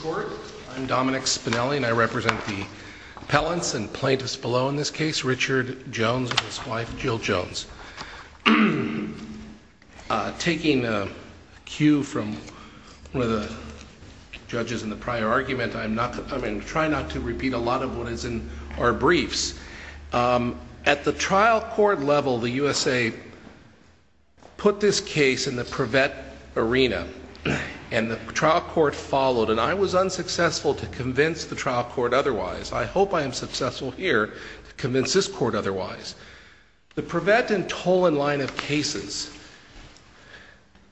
Court. I'm Dominic Spinelli, and I represent the appellants and plaintiffs below in this case, Richard Jones and his wife, Jill Jones. Taking a cue from one of the judges in the prior argument, I'm not going to try not to repeat a lot of what is in our briefs. At the trial court level, the USA put this case in the Prevet arena, and the trial court followed, and I was unsuccessful to convince the trial court otherwise. I hope I am successful here to convince this court otherwise. The Prevet and Tolan line of cases,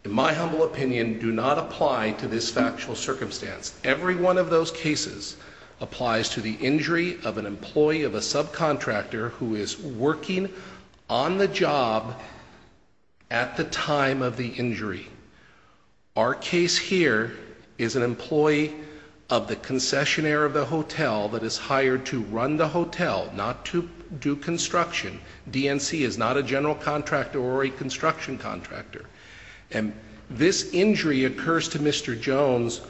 in my humble opinion, do not apply to this factual circumstance. Every one of those cases applies to the injury of an employee of a subcontractor who is working on the job at the time of the injury. Our case here is an employee of the concessionaire of the hotel that is hired to run the hotel, not to do construction. DNC is not a general contractor or a construction contractor. And this injury occurs to Mr. Jones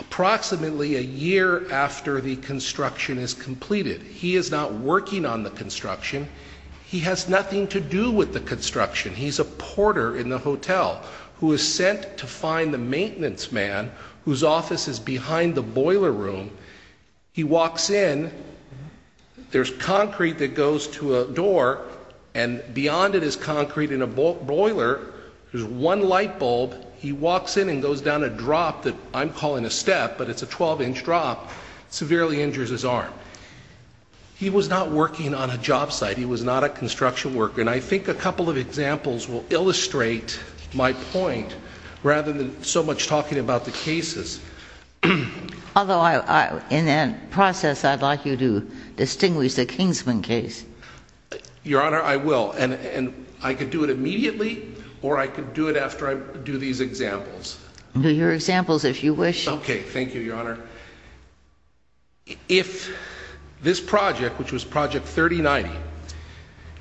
approximately a year after the construction is completed. He is not working on the construction. He has nothing to do with the construction. He's a porter in the hotel who is sent to find the maintenance man whose office is behind the boiler room. He walks in. There's concrete that goes to a door, and beyond it is concrete in a boiler. There's one light bulb. He walks in and goes down a drop that I'm calling a step, but it's a 12-inch drop, severely injures his arm. He was not working on a job site. He was not a construction worker. And I think a couple of examples will illustrate my point rather than so much talking about the cases. Although in that process, I'd like you to do it immediately, or I could do it after I do these examples. Your examples, if you wish. Okay. Thank you, Your Honor. If this project, which was Project 3090,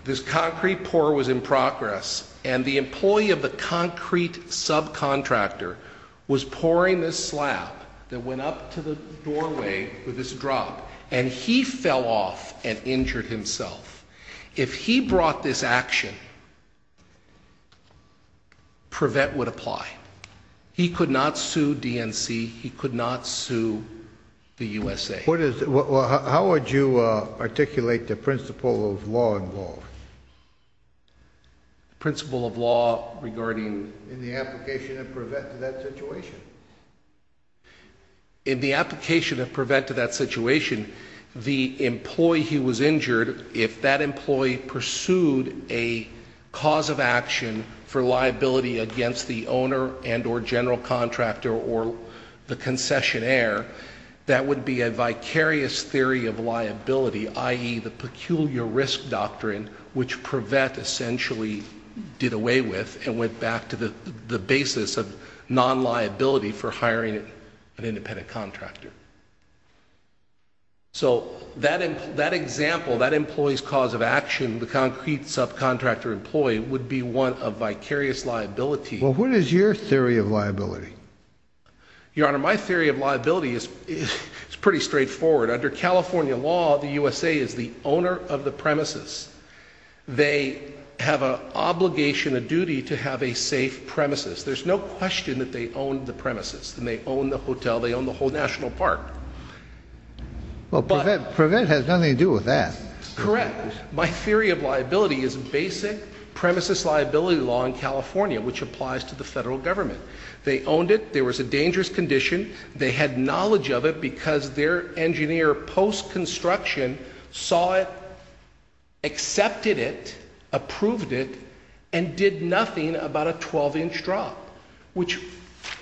this concrete pour was in progress, and the employee of the concrete subcontractor was pouring this slab that went up to the doorway with this drop, and he fell off and injured himself. If he brought this action, PREVET would apply. He could not sue DNC. He could not sue the USA. How would you articulate the principle of law involved? Principle of law regarding? In the application of PREVET to that situation. In the application of PREVET to that situation, the employee who was injured, if that employee pursued a cause of action for liability against the owner and or general contractor or the concessionaire, that would be a vicarious theory of liability, i.e., the peculiar risk doctrine, which PREVET essentially did away with and went back to the basis of non-liability for hiring an independent contractor. So that example, that employee's cause of action, the concrete subcontractor employee, would be one of vicarious liability. Well, what is your theory of liability? Your Honor, my theory of liability is pretty straightforward. Under California law, the USA is the owner of the premises. They have an obligation, a duty, to have a safe premises. There's no question that they own the premises, and they own the hotel, they own the whole national park. Well, PREVET has nothing to do with that. Correct. My theory of liability is basic premises liability law in California, which applies to the federal government. They owned it. There was a dangerous condition. They had knowledge of it because their engineer post-construction saw it, accepted it, approved it, and did nothing about a 12-inch drop, which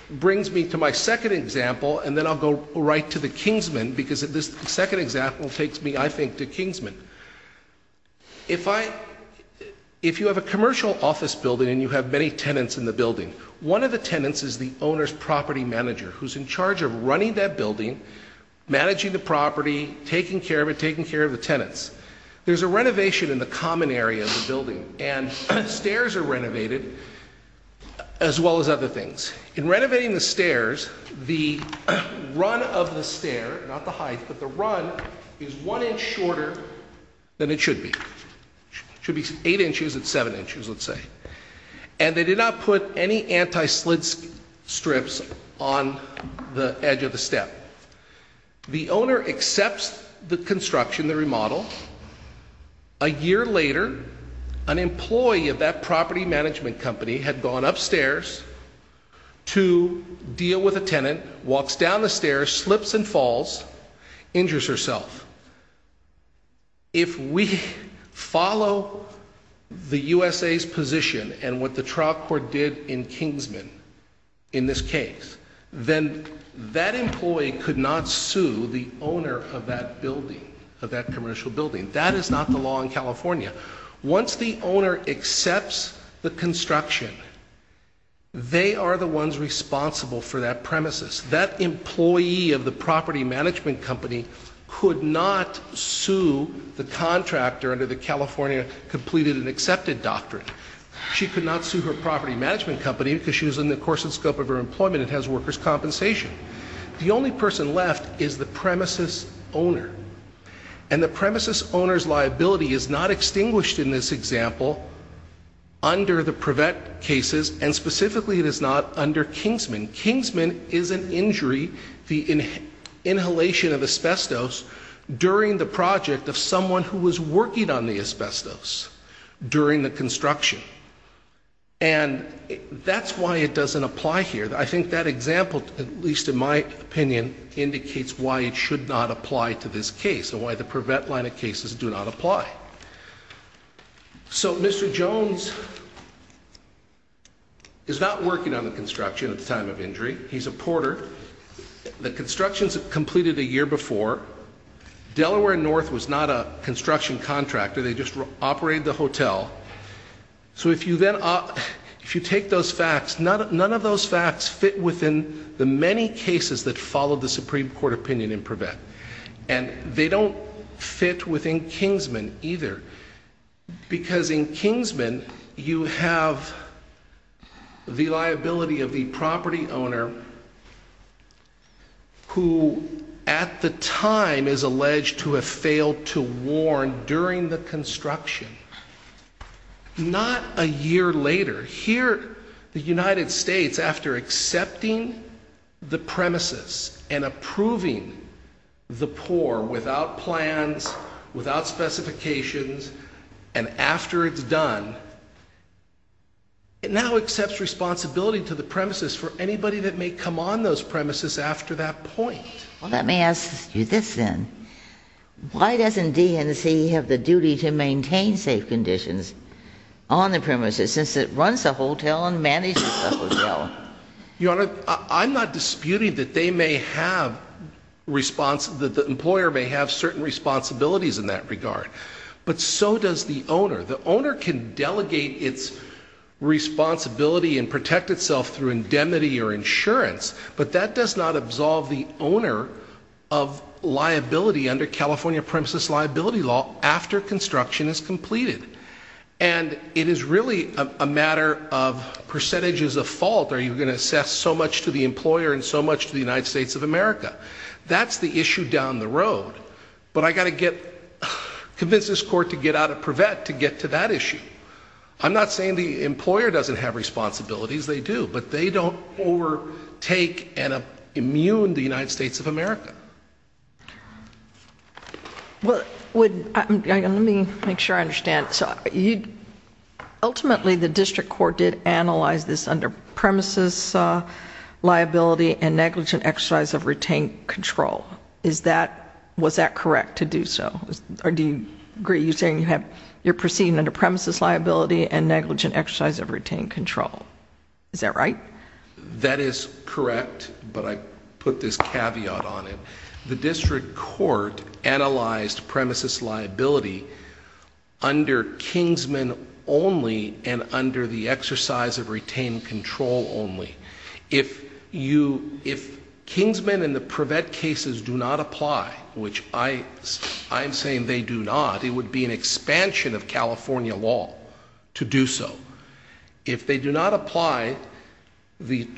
brings me to my second example, and then I'll go right to the Kingsman, because this second example takes me, I think, to Kingsman. If you have a commercial office building and you have many tenants in the building, one of the tenants is the owner's property manager, who's in charge of running that building, managing the property, taking care of it, taking care of the tenants. There's a renovation in the common area of the building, and stairs are renovated, as well as other things. In renovating the stairs, the run of the stair, not the height, but the run, is one inch shorter than it should be. It should be eight inches at seven inches, let's say. And they did not put any anti-slip strips on the edge of the step. The owner accepts the construction, the remodel. A year later, an employee of that property management company had gone upstairs to deal with a tenant, walks down the stairs, slips and falls, injures herself. If we follow the USA's position and what the trial court did in Kingsman, in this case, then that employee could not sue the owner of that building, of that commercial building. That is not the law in California. Once the owner accepts the construction, they are the ones responsible for that premises. That employee of the property management company could not sue the contractor under the California Completed and Accepted Contract. She could not sue her property management company because she was in the course and scope of her employment and has workers' compensation. The only person left is the premises owner. And the premises owner's liability is not extinguished in this example under the Prevet cases, and specifically it is not under Kingsman. Kingsman is an injury, the inhalation of asbestos, during the project of someone who was working on the asbestos during the construction. And that's why it doesn't apply here. I think that example, at least in my opinion, indicates why it should not apply to this case and why the Prevet line of cases do not apply. So Mr. Jones is not working on the construction at the time of injury. He's a porter. The construction is completed a year before. Delaware North was not a construction contractor. They just operated the hotel. So if you take those facts, none of those facts fit within the many cases that followed the Supreme Court opinion in Prevet. And they don't fit within Kingsman either. Because in Kingsman, you have the liability of the property owner who, at the time, is alleged to have failed to warn during the construction. Not a year later. Here, the United States, after accepting the premises and approving the poor without plans, without specifications, and after it's done, it now accepts responsibility to the premises for anybody that may come on those premises after that point. Let me ask you this then. Why doesn't DNC have the duty to maintain safe conditions on the premises since it runs the hotel and manages the hotel? Your Honor, I'm not disputing that they may have responsibility, that the employer may have certain responsibilities in that regard. But so does the owner. The owner can delegate its responsibility and protect itself through indemnity or insurance, but that does not absolve the owner of liability under California premises liability law after construction is completed. And it is really a matter of percentages of fault. Are you going to assess so much to the employer and so much to the United States of America? That's the issue down the road. But I've got to convince this Court to get out of Privet to get to that issue. I'm not saying the employer doesn't have responsibilities. They do. But they don't overtake and immune the United States of America. Well, let me make sure I understand. Ultimately, the District Court did analyze this under Kingsman only and under the exercise of retained control only. If Kingsman and the Privet cases do not apply, which I'm saying they do not, it would be an expansion of California law to do so. If they do not apply, the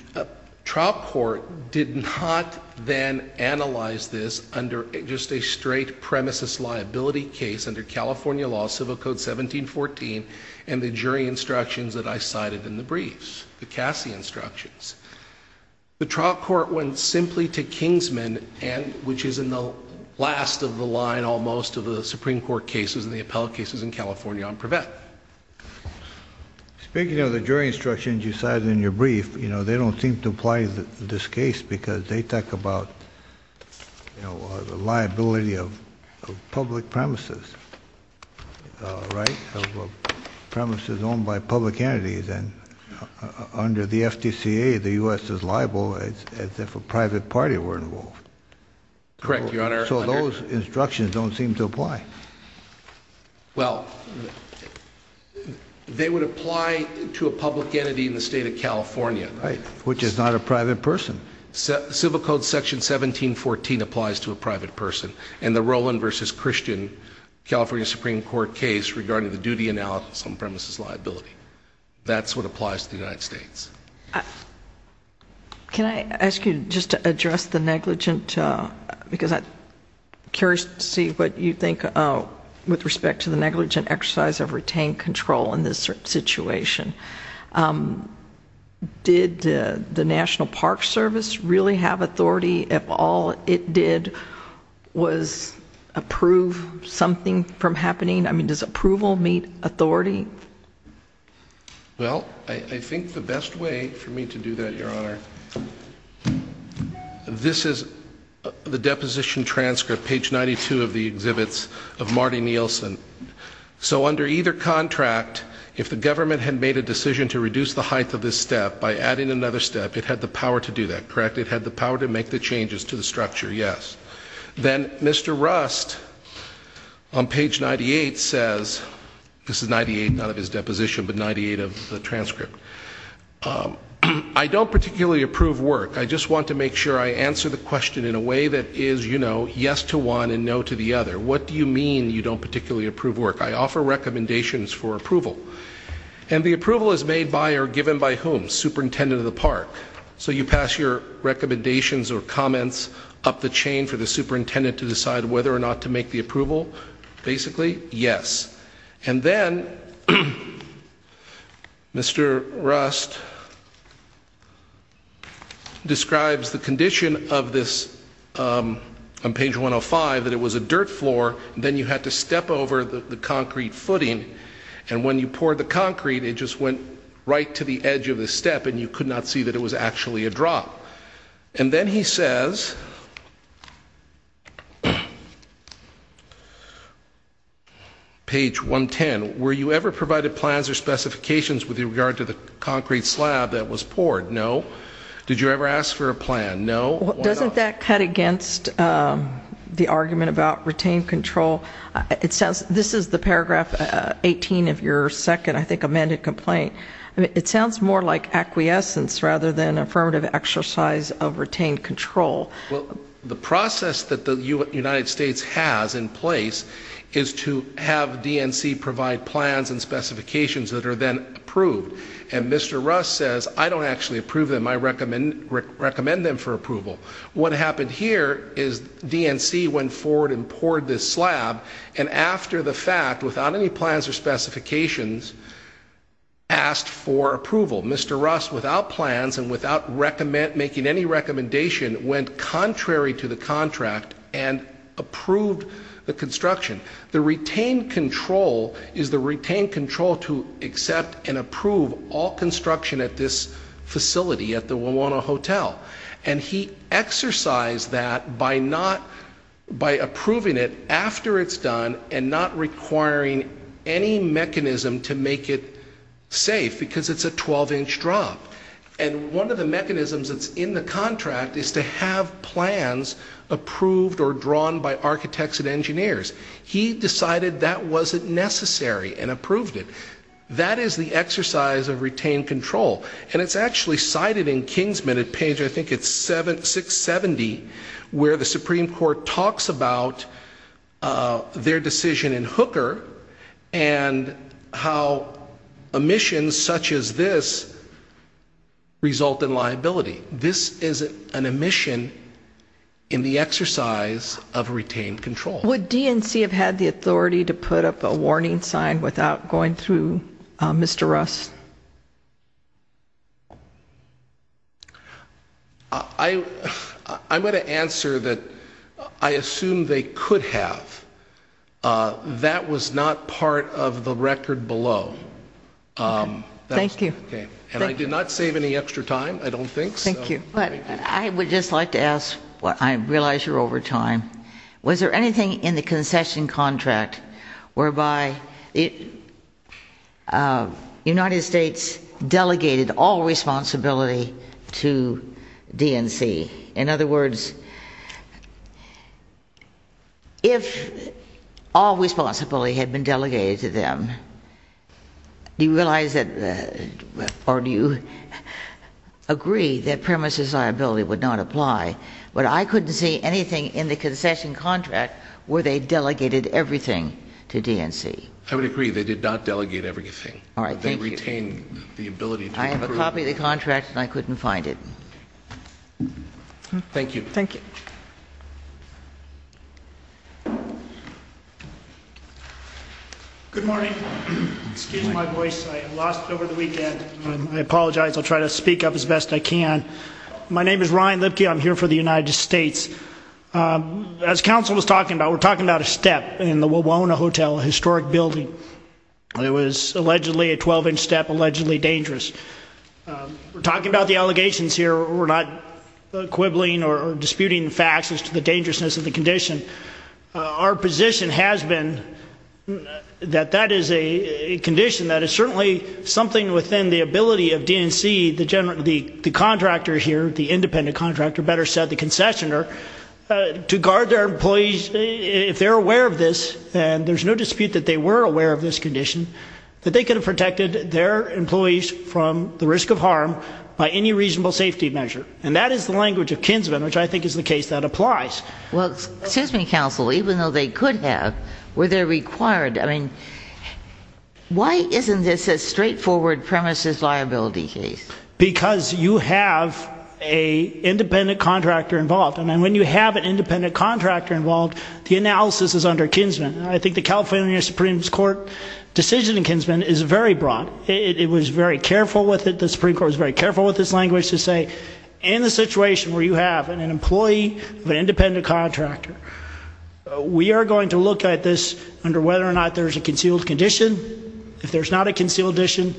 trial court did not then analyze this under just a straight premises liability case under California law, Civil Code 1714 and the jury instructions that I cited in the briefs, the Cassie instructions. The trial court went simply to Kingsman and which is in the last of the line almost of the Supreme Court cases and the appellate cases in California on Privet. Speaking of the jury instructions you cited in your brief, you know, they don't seem to apply this case because they talk about, you know, the liability of public premises, right? Premises owned by public entities and under the FDCA, the U.S. is liable as if a private party were involved. Correct, Your Honor. So those instructions don't seem to apply. Well, they would apply to a public entity in the state of California. Right, which is not a private person. Civil Code Section 1714 applies to a private person and the Roland v. Christian California Supreme Court case regarding the duty analysis on premises liability. That's what applies to the United States. Can I ask you just to address the negligent, because I'm curious to see what you think with respect to the negligent exercise of retained control in this situation. Did the National Park Service really have authority if all it did was approve something from happening? I mean, does approval meet authority? Well, I think the best way for me to do that, Your Honor, this is the deposition transcript, page 92 of the exhibits of Marty Nielsen. So under either contract, if the government had made a decision to reduce the height of this step by adding another step, it had the power to do that, correct? It had the power to make the changes to the structure, yes. Then Mr. Rust on page 98 says, this is 98, not of his deposition, but 98 of the transcript. I don't particularly approve work. I just want to make sure I answer the question in a way that is, you know, yes to one and no to the other. What do you mean you don't particularly approve work? I offer recommendations for approval. And the approval is made by or given by whom? Superintendent of the park. So you pass your recommendations or comments up the chain for the superintendent to decide whether or not to make the approval? Basically, yes. And then Mr. Rust describes the condition of this on page 105, that it was a dirt floor. Then you had to step over the concrete footing. And when you poured the concrete, it just went right to the edge of the step and you could not see that it was actually a drop. And then he says, page 110, were you ever provided plans or specifications with regard to the concrete slab that was poured? No. Did you ever ask for a plan? No. Why not? Doesn't that cut against the argument about retained control? This is the paragraph 18 of your second, I think, amended complaint. It sounds more like acquiescence rather than affirmative exercise of retained control. Well, the process that the United States has in place is to have DNC provide plans and specifications that are then approved. And Mr. Rust says, I don't actually approve them. I recommend them for approval. What happened here is DNC went forward and poured this slab. And after the fact, without any plans or specifications, asked for approval. Mr. Rust, without plans and without making any recommendation, went contrary to the contract and approved the construction. The retained control is the retained control to accept and approve all construction at this facility at the Wawona Hotel. And he exercised that by approving it after it's done and not requiring any mechanism to make it safe because it's a 12-inch drop. And one of the mechanisms that's in the contract is to have plans approved or drawn by architects and engineers. He decided that wasn't necessary and approved it. That is the exercise of retained control. And it's actually cited in Kingsman at page, I think it's 670, where the Supreme Court talks about their decision in Hooker and how omissions such as this result in liability. This is an omission in the exercise of retained control. Would DNC have had the authority to put up a warning sign without going through Mr. Rust? I'm going to answer that I assume they could have. That was not part of the record below. Thank you. And I did not save any extra time, I don't think. Thank you. I would just like to ask, I realize you're over time. Was there anything in the concession contract whereby the United States delegated all responsibility to DNC? In other words, if all responsibility had been delegated to them, do you realize that or do you agree that premises liability would not apply? But I couldn't see anything in the concession contract where they delegated everything to DNC. I would agree. They did not delegate everything. All right. Thank you. They retained the ability to approve. I have a copy of the contract and I couldn't find it. Thank you. Thank you. Good morning. Excuse my voice. I have lost it over the weekend. I apologize. I'll try to speak up as best I can. My name is Ryan Lipke. I'm here for the United States. As counsel was talking about, we're talking about a step in the Wawona Hotel, a historic building. It was allegedly a 12-inch step, allegedly dangerous. We're talking about the allegations here. We're not quibbling or disputing facts as to the dangerousness of the condition. Our position has been that that is a condition that is certainly something within the ability of DNC, the contractor here, the independent contractor, better said, the concessioner, to guard their employees. If they're aware of this, and there's no dispute that they were aware of this condition, that they could have protected their employees from the risk of harm by any reasonable safety measure. And that is the language of Kinsman, which I think is the case that applies. Well, excuse me, counsel. Even though they could have, were there required? I mean, why isn't this a straightforward premises liability case? Because you have an independent contractor involved. And when you have an independent contractor involved, the analysis is under Kinsman. I think the California Supreme Court decision in Kinsman is very broad. It was very careful with it. The Supreme Court was very careful with its language to say, in the situation where you have an employee of an independent contractor, we are going to look at this under whether or not there's a concealed condition. If there's not a concealed condition,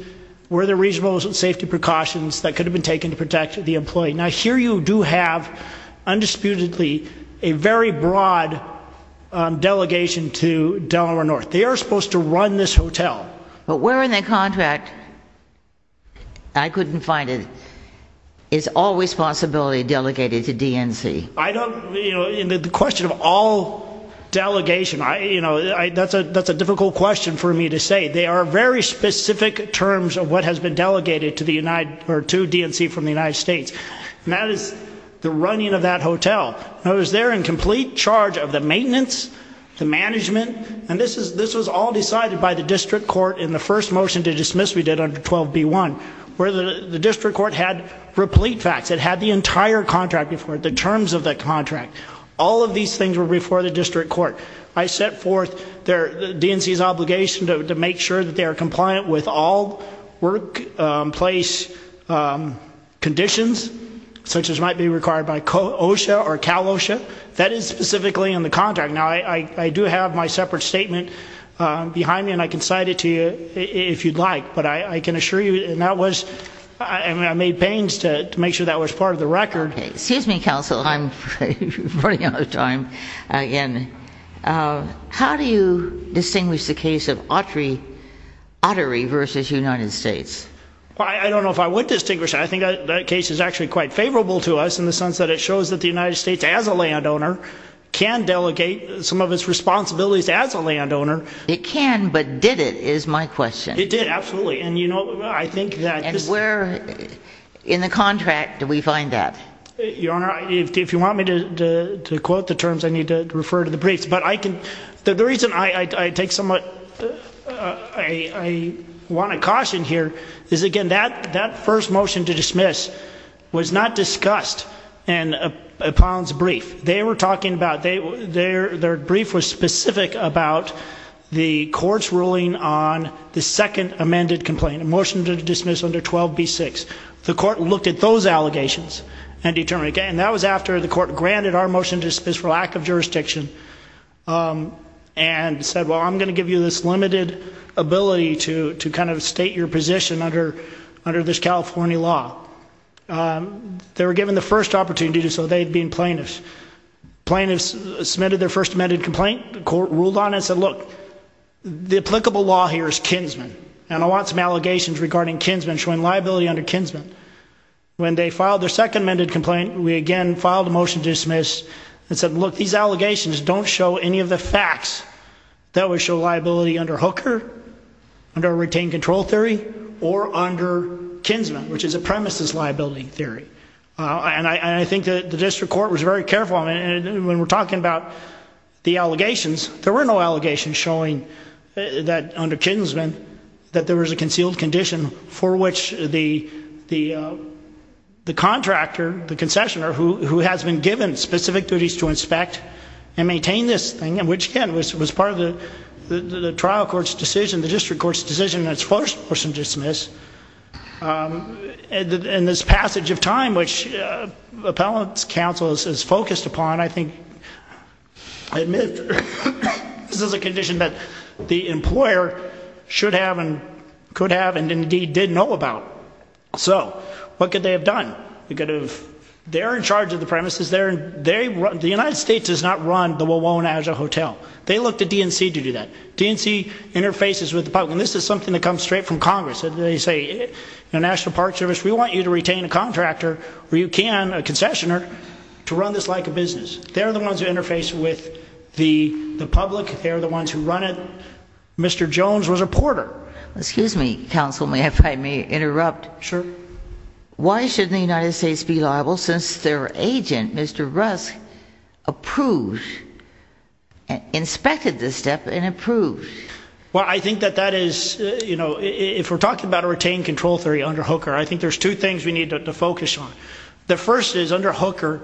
were there reasonable safety precautions that could have been taken to protect the employee? Now, here you do have, undisputedly, a very broad delegation to Delaware North. They are supposed to run this hotel. But where in the contract, I couldn't find it, is all responsibility delegated to DNC? The question of all delegation, that's a difficult question for me to say. They are very specific terms of what has been delegated to DNC from the United States. And that is the running of that hotel. It was there in complete charge of the maintenance, the management, and this was all decided by the district court in the first motion to dismiss we did under 12B1, where the district court had replete facts. It had the entire contract before it, the terms of the contract. All of these things were before the district court. I set forth DNC's obligation to make sure that they are compliant with all workplace conditions, such as might be required by OSHA or CalOSHA. That is specifically in the contract. Now, I do have my separate statement behind me, and I can cite it to you if you'd like. But I can assure you, and I made pains to make sure that was part of the record. Excuse me, counsel, I'm running out of time again. How do you distinguish the case of Autry v. United States? I don't know if I would distinguish. I think that case is actually quite favorable to us in the sense that it shows that the United States, as a landowner, can delegate some of its responsibilities as a landowner. It can, but did it, is my question. It did, absolutely. And, you know, I think that... And where in the contract do we find that? Your Honor, if you want me to quote the terms, I need to refer to the briefs. But the reason I want to caution here is, again, that first motion to dismiss was not discussed in Apollon's brief. They were talking about, their brief was specific about the court's ruling on the second amended complaint, a motion to dismiss under 12b-6. The court looked at those allegations and determined, and that was after the court granted our motion to dismiss for lack of jurisdiction and said, well, I'm going to give you this limited ability to kind of state your position under this California law. They were given the first opportunity to do so. They had been plaintiffs. Plaintiffs submitted their first amended complaint. The court ruled on it and said, look, the applicable law here is Kinsman, and I want some allegations regarding Kinsman showing liability under Kinsman. When they filed their second amended complaint, we again filed a motion to dismiss and said, look, these allegations don't show any of the facts that would show liability under Hooker, under a retained control theory, or under Kinsman, which is a premises liability theory. And I think the district court was very careful. And when we're talking about the allegations, there were no allegations showing that under Kinsman, that there was a concealed condition for which the contractor, the concessioner, who has been given specific duties to inspect and maintain this thing, which, again, was part of the trial court's decision, the district court's decision in its first motion to dismiss, and this passage of time which appellant's counsel is focused upon, I think, I admit this is a condition that the employer should have and could have and indeed did know about. So what could they have done? They're in charge of the premises. The United States does not run the Wawona as a hotel. They looked at DNC to do that. DNC interfaces with the public. And this is something that comes straight from Congress. They say, National Park Service, we want you to retain a contractor where you can, a concessioner, to run this like a business. They're the ones who interface with the public. They're the ones who run it. Mr. Jones was a porter. Excuse me, counsel, if I may interrupt. Sure. Why shouldn't the United States be liable since their agent, Mr. Rusk, approved, inspected this step and approved? Well, I think that that is, you know, if we're talking about a retained control theory under Hooker, I think there's two things we need to focus on. The first is, under Hooker,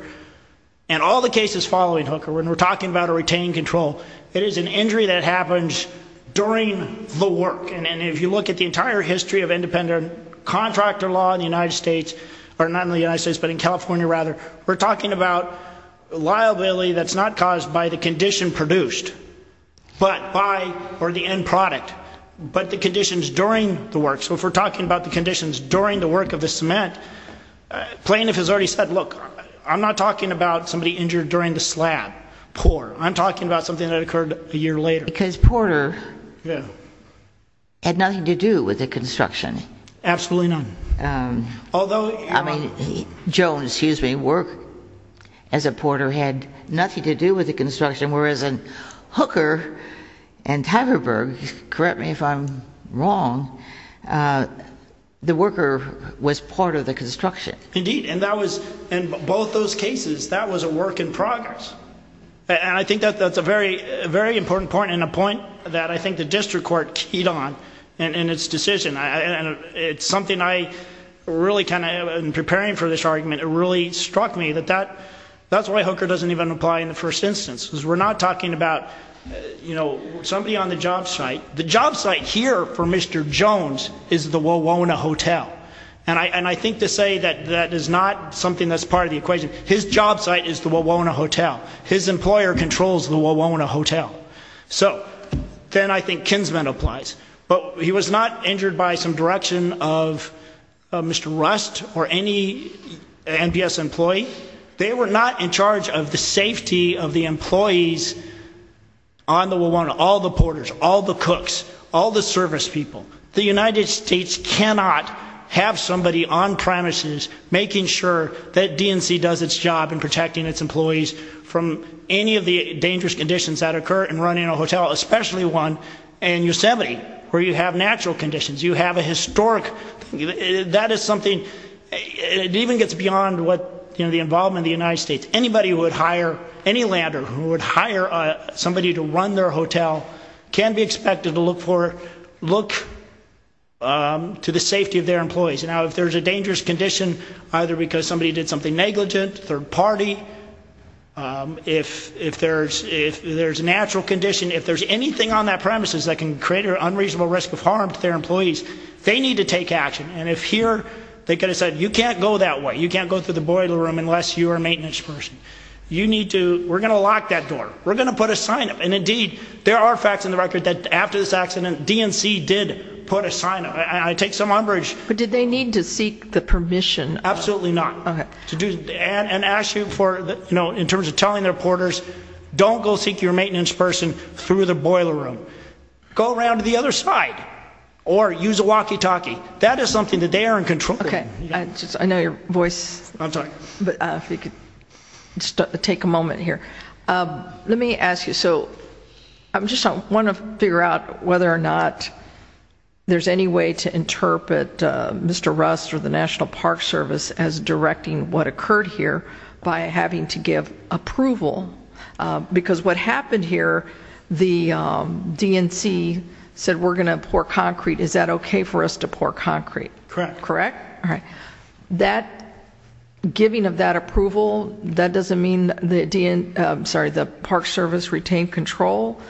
and all the cases following Hooker, when we're talking about a retained control, it is an injury that happens during the work. And if you look at the entire history of independent contractor law in the United States, or not in the United States, but in California, rather, we're talking about liability that's not caused by the condition produced, but by, or the end product, but the conditions during the work. So if we're talking about the conditions during the work of the cement, plaintiff has already said, look, I'm not talking about somebody injured during the slab pour. I'm talking about something that occurred a year later. Because Porter had nothing to do with the construction. Absolutely none. I mean, Jones, excuse me, worked as a porter, had nothing to do with the construction, whereas in Hooker and Tyverberg, correct me if I'm wrong, the worker was part of the construction. Indeed, and that was, in both those cases, that was a work in progress. And I think that's a very, very important point, and a point that I think the district court keyed on in its decision. And it's something I really kind of, in preparing for this argument, it really struck me that that's why Hooker doesn't even apply in the first instance. Because we're not talking about, you know, somebody on the job site. The job site here for Mr. Jones is the Wawona Hotel. And I think to say that that is not something that's part of the equation. His job site is the Wawona Hotel. His employer controls the Wawona Hotel. So, then I think Kinsman applies. But he was not injured by some direction of Mr. Rust or any NPS employee. They were not in charge of the safety of the employees on the Wawona. All the porters, all the cooks, all the service people. The United States cannot have somebody on premises making sure that DNC does its job in protecting its employees from any of the dangerous conditions that occur in running a hotel, especially one in Yosemite, where you have natural conditions. You have a historic, that is something, it even gets beyond what, you know, the involvement of the United States. Anybody who would hire, any lander who would hire somebody to run their hotel can be expected to look to the safety of their employees. Now, if there's a dangerous condition, either because somebody did something negligent, third party, if there's a natural condition, if there's anything on that premises that can create an unreasonable risk of harm to their employees, they need to take action. And if here, they could have said, you can't go that way. You can't go through the boiler room unless you are a maintenance person. You need to, we're going to lock that door. We're going to put a sign up. And indeed, there are facts on the record that after this accident, DNC did put a sign up. I take some umbrage. But did they need to seek the permission? Absolutely not. Okay. And ask you for, you know, in terms of telling their porters, don't go seek your maintenance person through the boiler room. Go around to the other side. Or use a walkie-talkie. That is something that they are in control of. Okay. I know your voice. I'm sorry. But if you could take a moment here. Let me ask you, so I just want to figure out whether or not there's any way to interpret Mr. Rust or the National Park Service as directing what occurred here by having to give approval. Because what happened here, the DNC said we're going to pour concrete. Is that okay for us to pour concrete? Correct. Correct? All right. So that giving of that approval, that doesn't mean the DNC, I'm sorry, the Park Service retained control?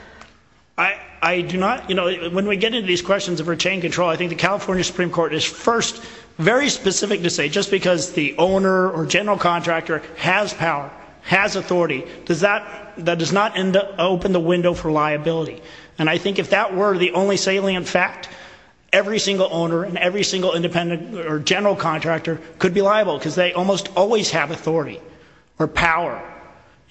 I do not. You know, when we get into these questions of retained control, I think the California Supreme Court is first very specific to say just because the owner or general contractor has power, has authority, that does not open the window for liability. And I think if that were the only salient fact, every single owner and every single independent or general contractor could be liable because they almost always have authority or power.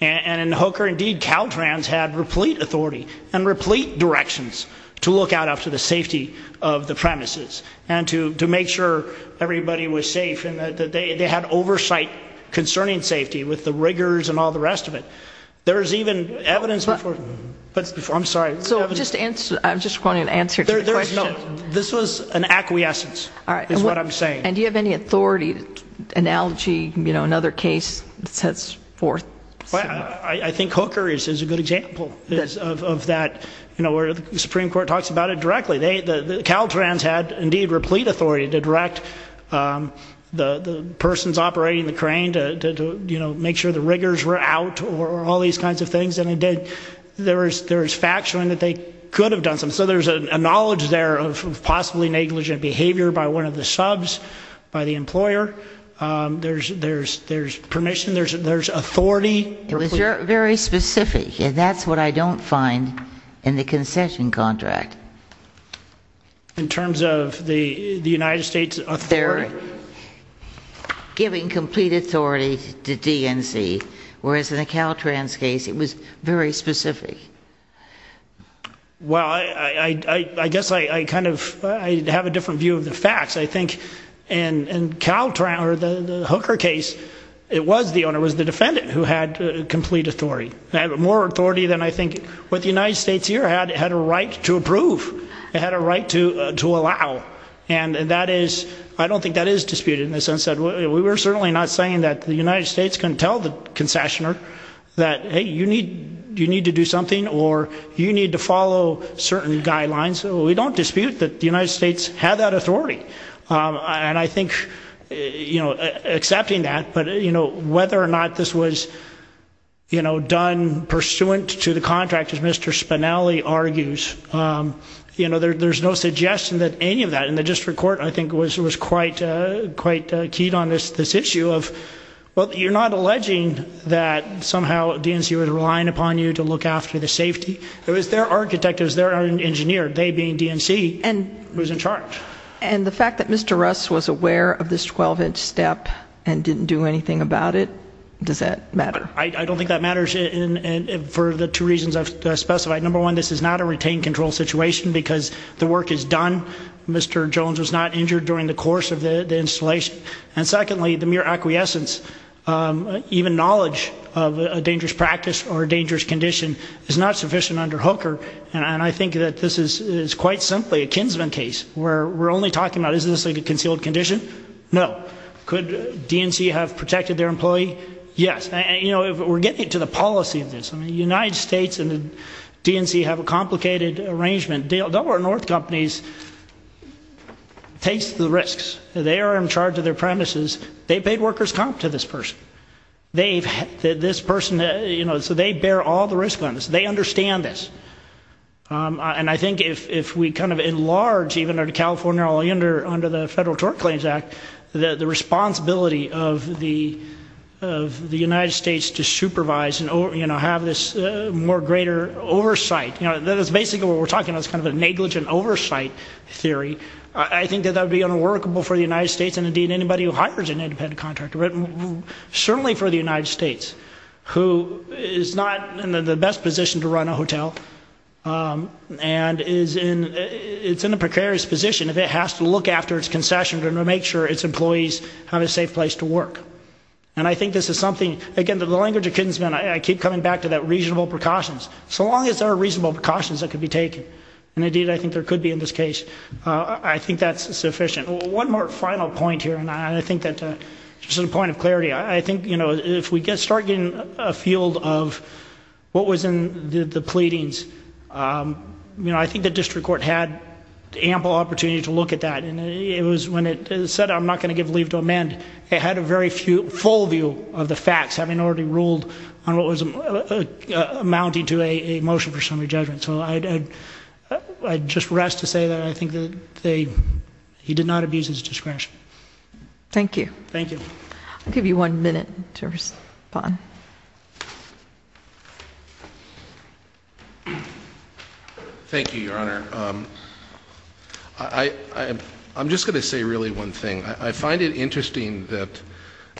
And in Hooker, indeed, Caltrans had replete authority and replete directions to look out after the safety of the premises and to make sure everybody was safe. They had oversight concerning safety with the rigors and all the rest of it. There's even evidence before you. I'm sorry. I just wanted an answer to the question. This was an acquiescence is what I'm saying. And do you have any authority analogy, another case that sets forth? I think Hooker is a good example of that where the Supreme Court talks about it directly. Caltrans had, indeed, replete authority to direct the persons operating the crane to make sure the rigors were out or all these kinds of things. And, indeed, there is fact showing that they could have done some. So there's a knowledge there of possibly negligent behavior by one of the subs, by the employer. There's permission. There's authority. It was very specific, and that's what I don't find in the concession contract. In terms of the United States authority? They're giving complete authority to DNC, whereas in the Caltrans case it was very specific. Well, I guess I kind of have a different view of the facts. I think in Caltrans or the Hooker case, it was the owner, it was the defendant who had complete authority. They have more authority than I think what the United States here had. It had a right to approve. It had a right to allow. And that is, I don't think that is disputed in the sense that we're certainly not saying that the United States can tell the concessioner that, hey, you need to do something, or you need to follow certain guidelines. We don't dispute that the United States had that authority. And I think accepting that, but whether or not this was done pursuant to the contract, as Mr. Spinelli argues, there's no suggestion that any of that in the district court, I think, was quite keyed on this issue of, well, you're not alleging that somehow DNC was relying upon you to look after the safety. It was their architect, it was their engineer, they being DNC, who was in charge. And the fact that Mr. Russ was aware of this 12-inch step and didn't do anything about it, does that matter? I don't think that matters for the two reasons I've specified. Number one, this is not a retained control situation because the work is done. Mr. Jones was not injured during the course of the installation. And secondly, the mere acquiescence, even knowledge of a dangerous practice or a dangerous condition, is not sufficient under Hooker, and I think that this is quite simply a kinsman case where we're only talking about is this a concealed condition? No. Could DNC have protected their employee? Yes. And, you know, we're getting to the policy of this. The United States and DNC have a complicated arrangement. Delaware North Companies takes the risks. They are in charge of their premises. They've paid workers' comp to this person. They've had this person, you know, so they bear all the risk on this. They understand this. And I think if we kind of enlarge, even under California, or under the Federal Tort Claims Act, the responsibility of the United States to supervise and, you know, have this more greater oversight, you know, that is basically what we're talking about is kind of a negligent oversight theory. I think that that would be unworkable for the United States and, indeed, anybody who hires an independent contractor. Certainly for the United States, who is not in the best position to run a hotel and is in a precarious position, if it has to look after its concession to make sure its employees have a safe place to work. And I think this is something, again, the language of kinsmen, I keep coming back to that reasonable precautions. So long as there are reasonable precautions that can be taken, and, indeed, I think there could be in this case, I think that's sufficient. One more final point here, and I think that just as a point of clarity, I think, you know, if we start getting a field of what was in the pleadings, you know, I think the district court had ample opportunity to look at that. And it was when it said, I'm not going to give leave to amend, it had a very full view of the facts, having already ruled on what was amounting to a motion for summary judgment. So I'd just rest to say that I think that they... He did not abuse his discretion. Thank you. Thank you. I'll give you one minute to respond. Thank you, Your Honor. I'm just going to say really one thing. I find it interesting that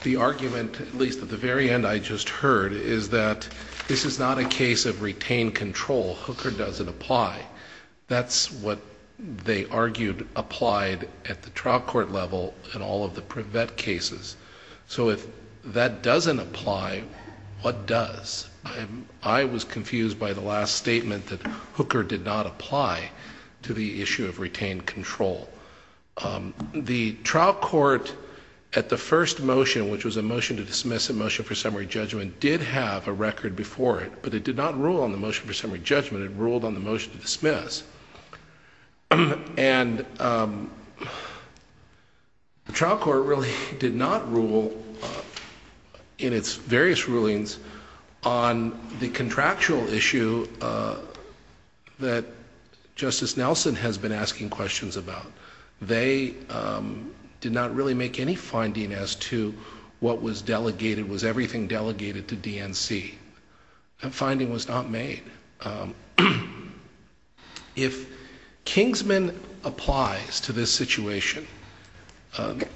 the argument, at least at the very end I just heard, is that this is not a case of retained control. Hooker doesn't apply. That's what they argued applied at the trial court level in all of the Prevet cases. So if that doesn't apply, what does? I was confused by the last statement that Hooker did not apply to the issue of retained control. The trial court, at the first motion, which was a motion to dismiss, a motion for summary judgment, did have a record before it, but it did not rule on the motion for summary judgment. It ruled on the motion to dismiss. And the trial court really did not rule, in its various rulings, on the contractual issue that Justice Nelson has been asking questions about. They did not really make any finding as to what was delegated, was everything delegated to DNC. That finding was not made. If Kingsman applies to this situation,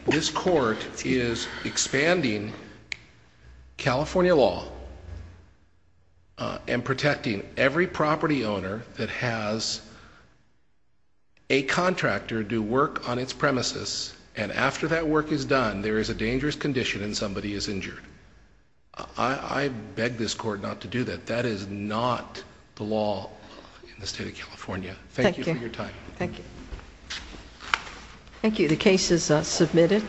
this court is expanding California law and protecting every property owner that has a contractor do work on its premises, and after that work is done, there is a dangerous condition and somebody is injured. I beg this court not to do that. That is not the law in the state of California. Thank you for your time. Thank you. Thank you. The case is submitted.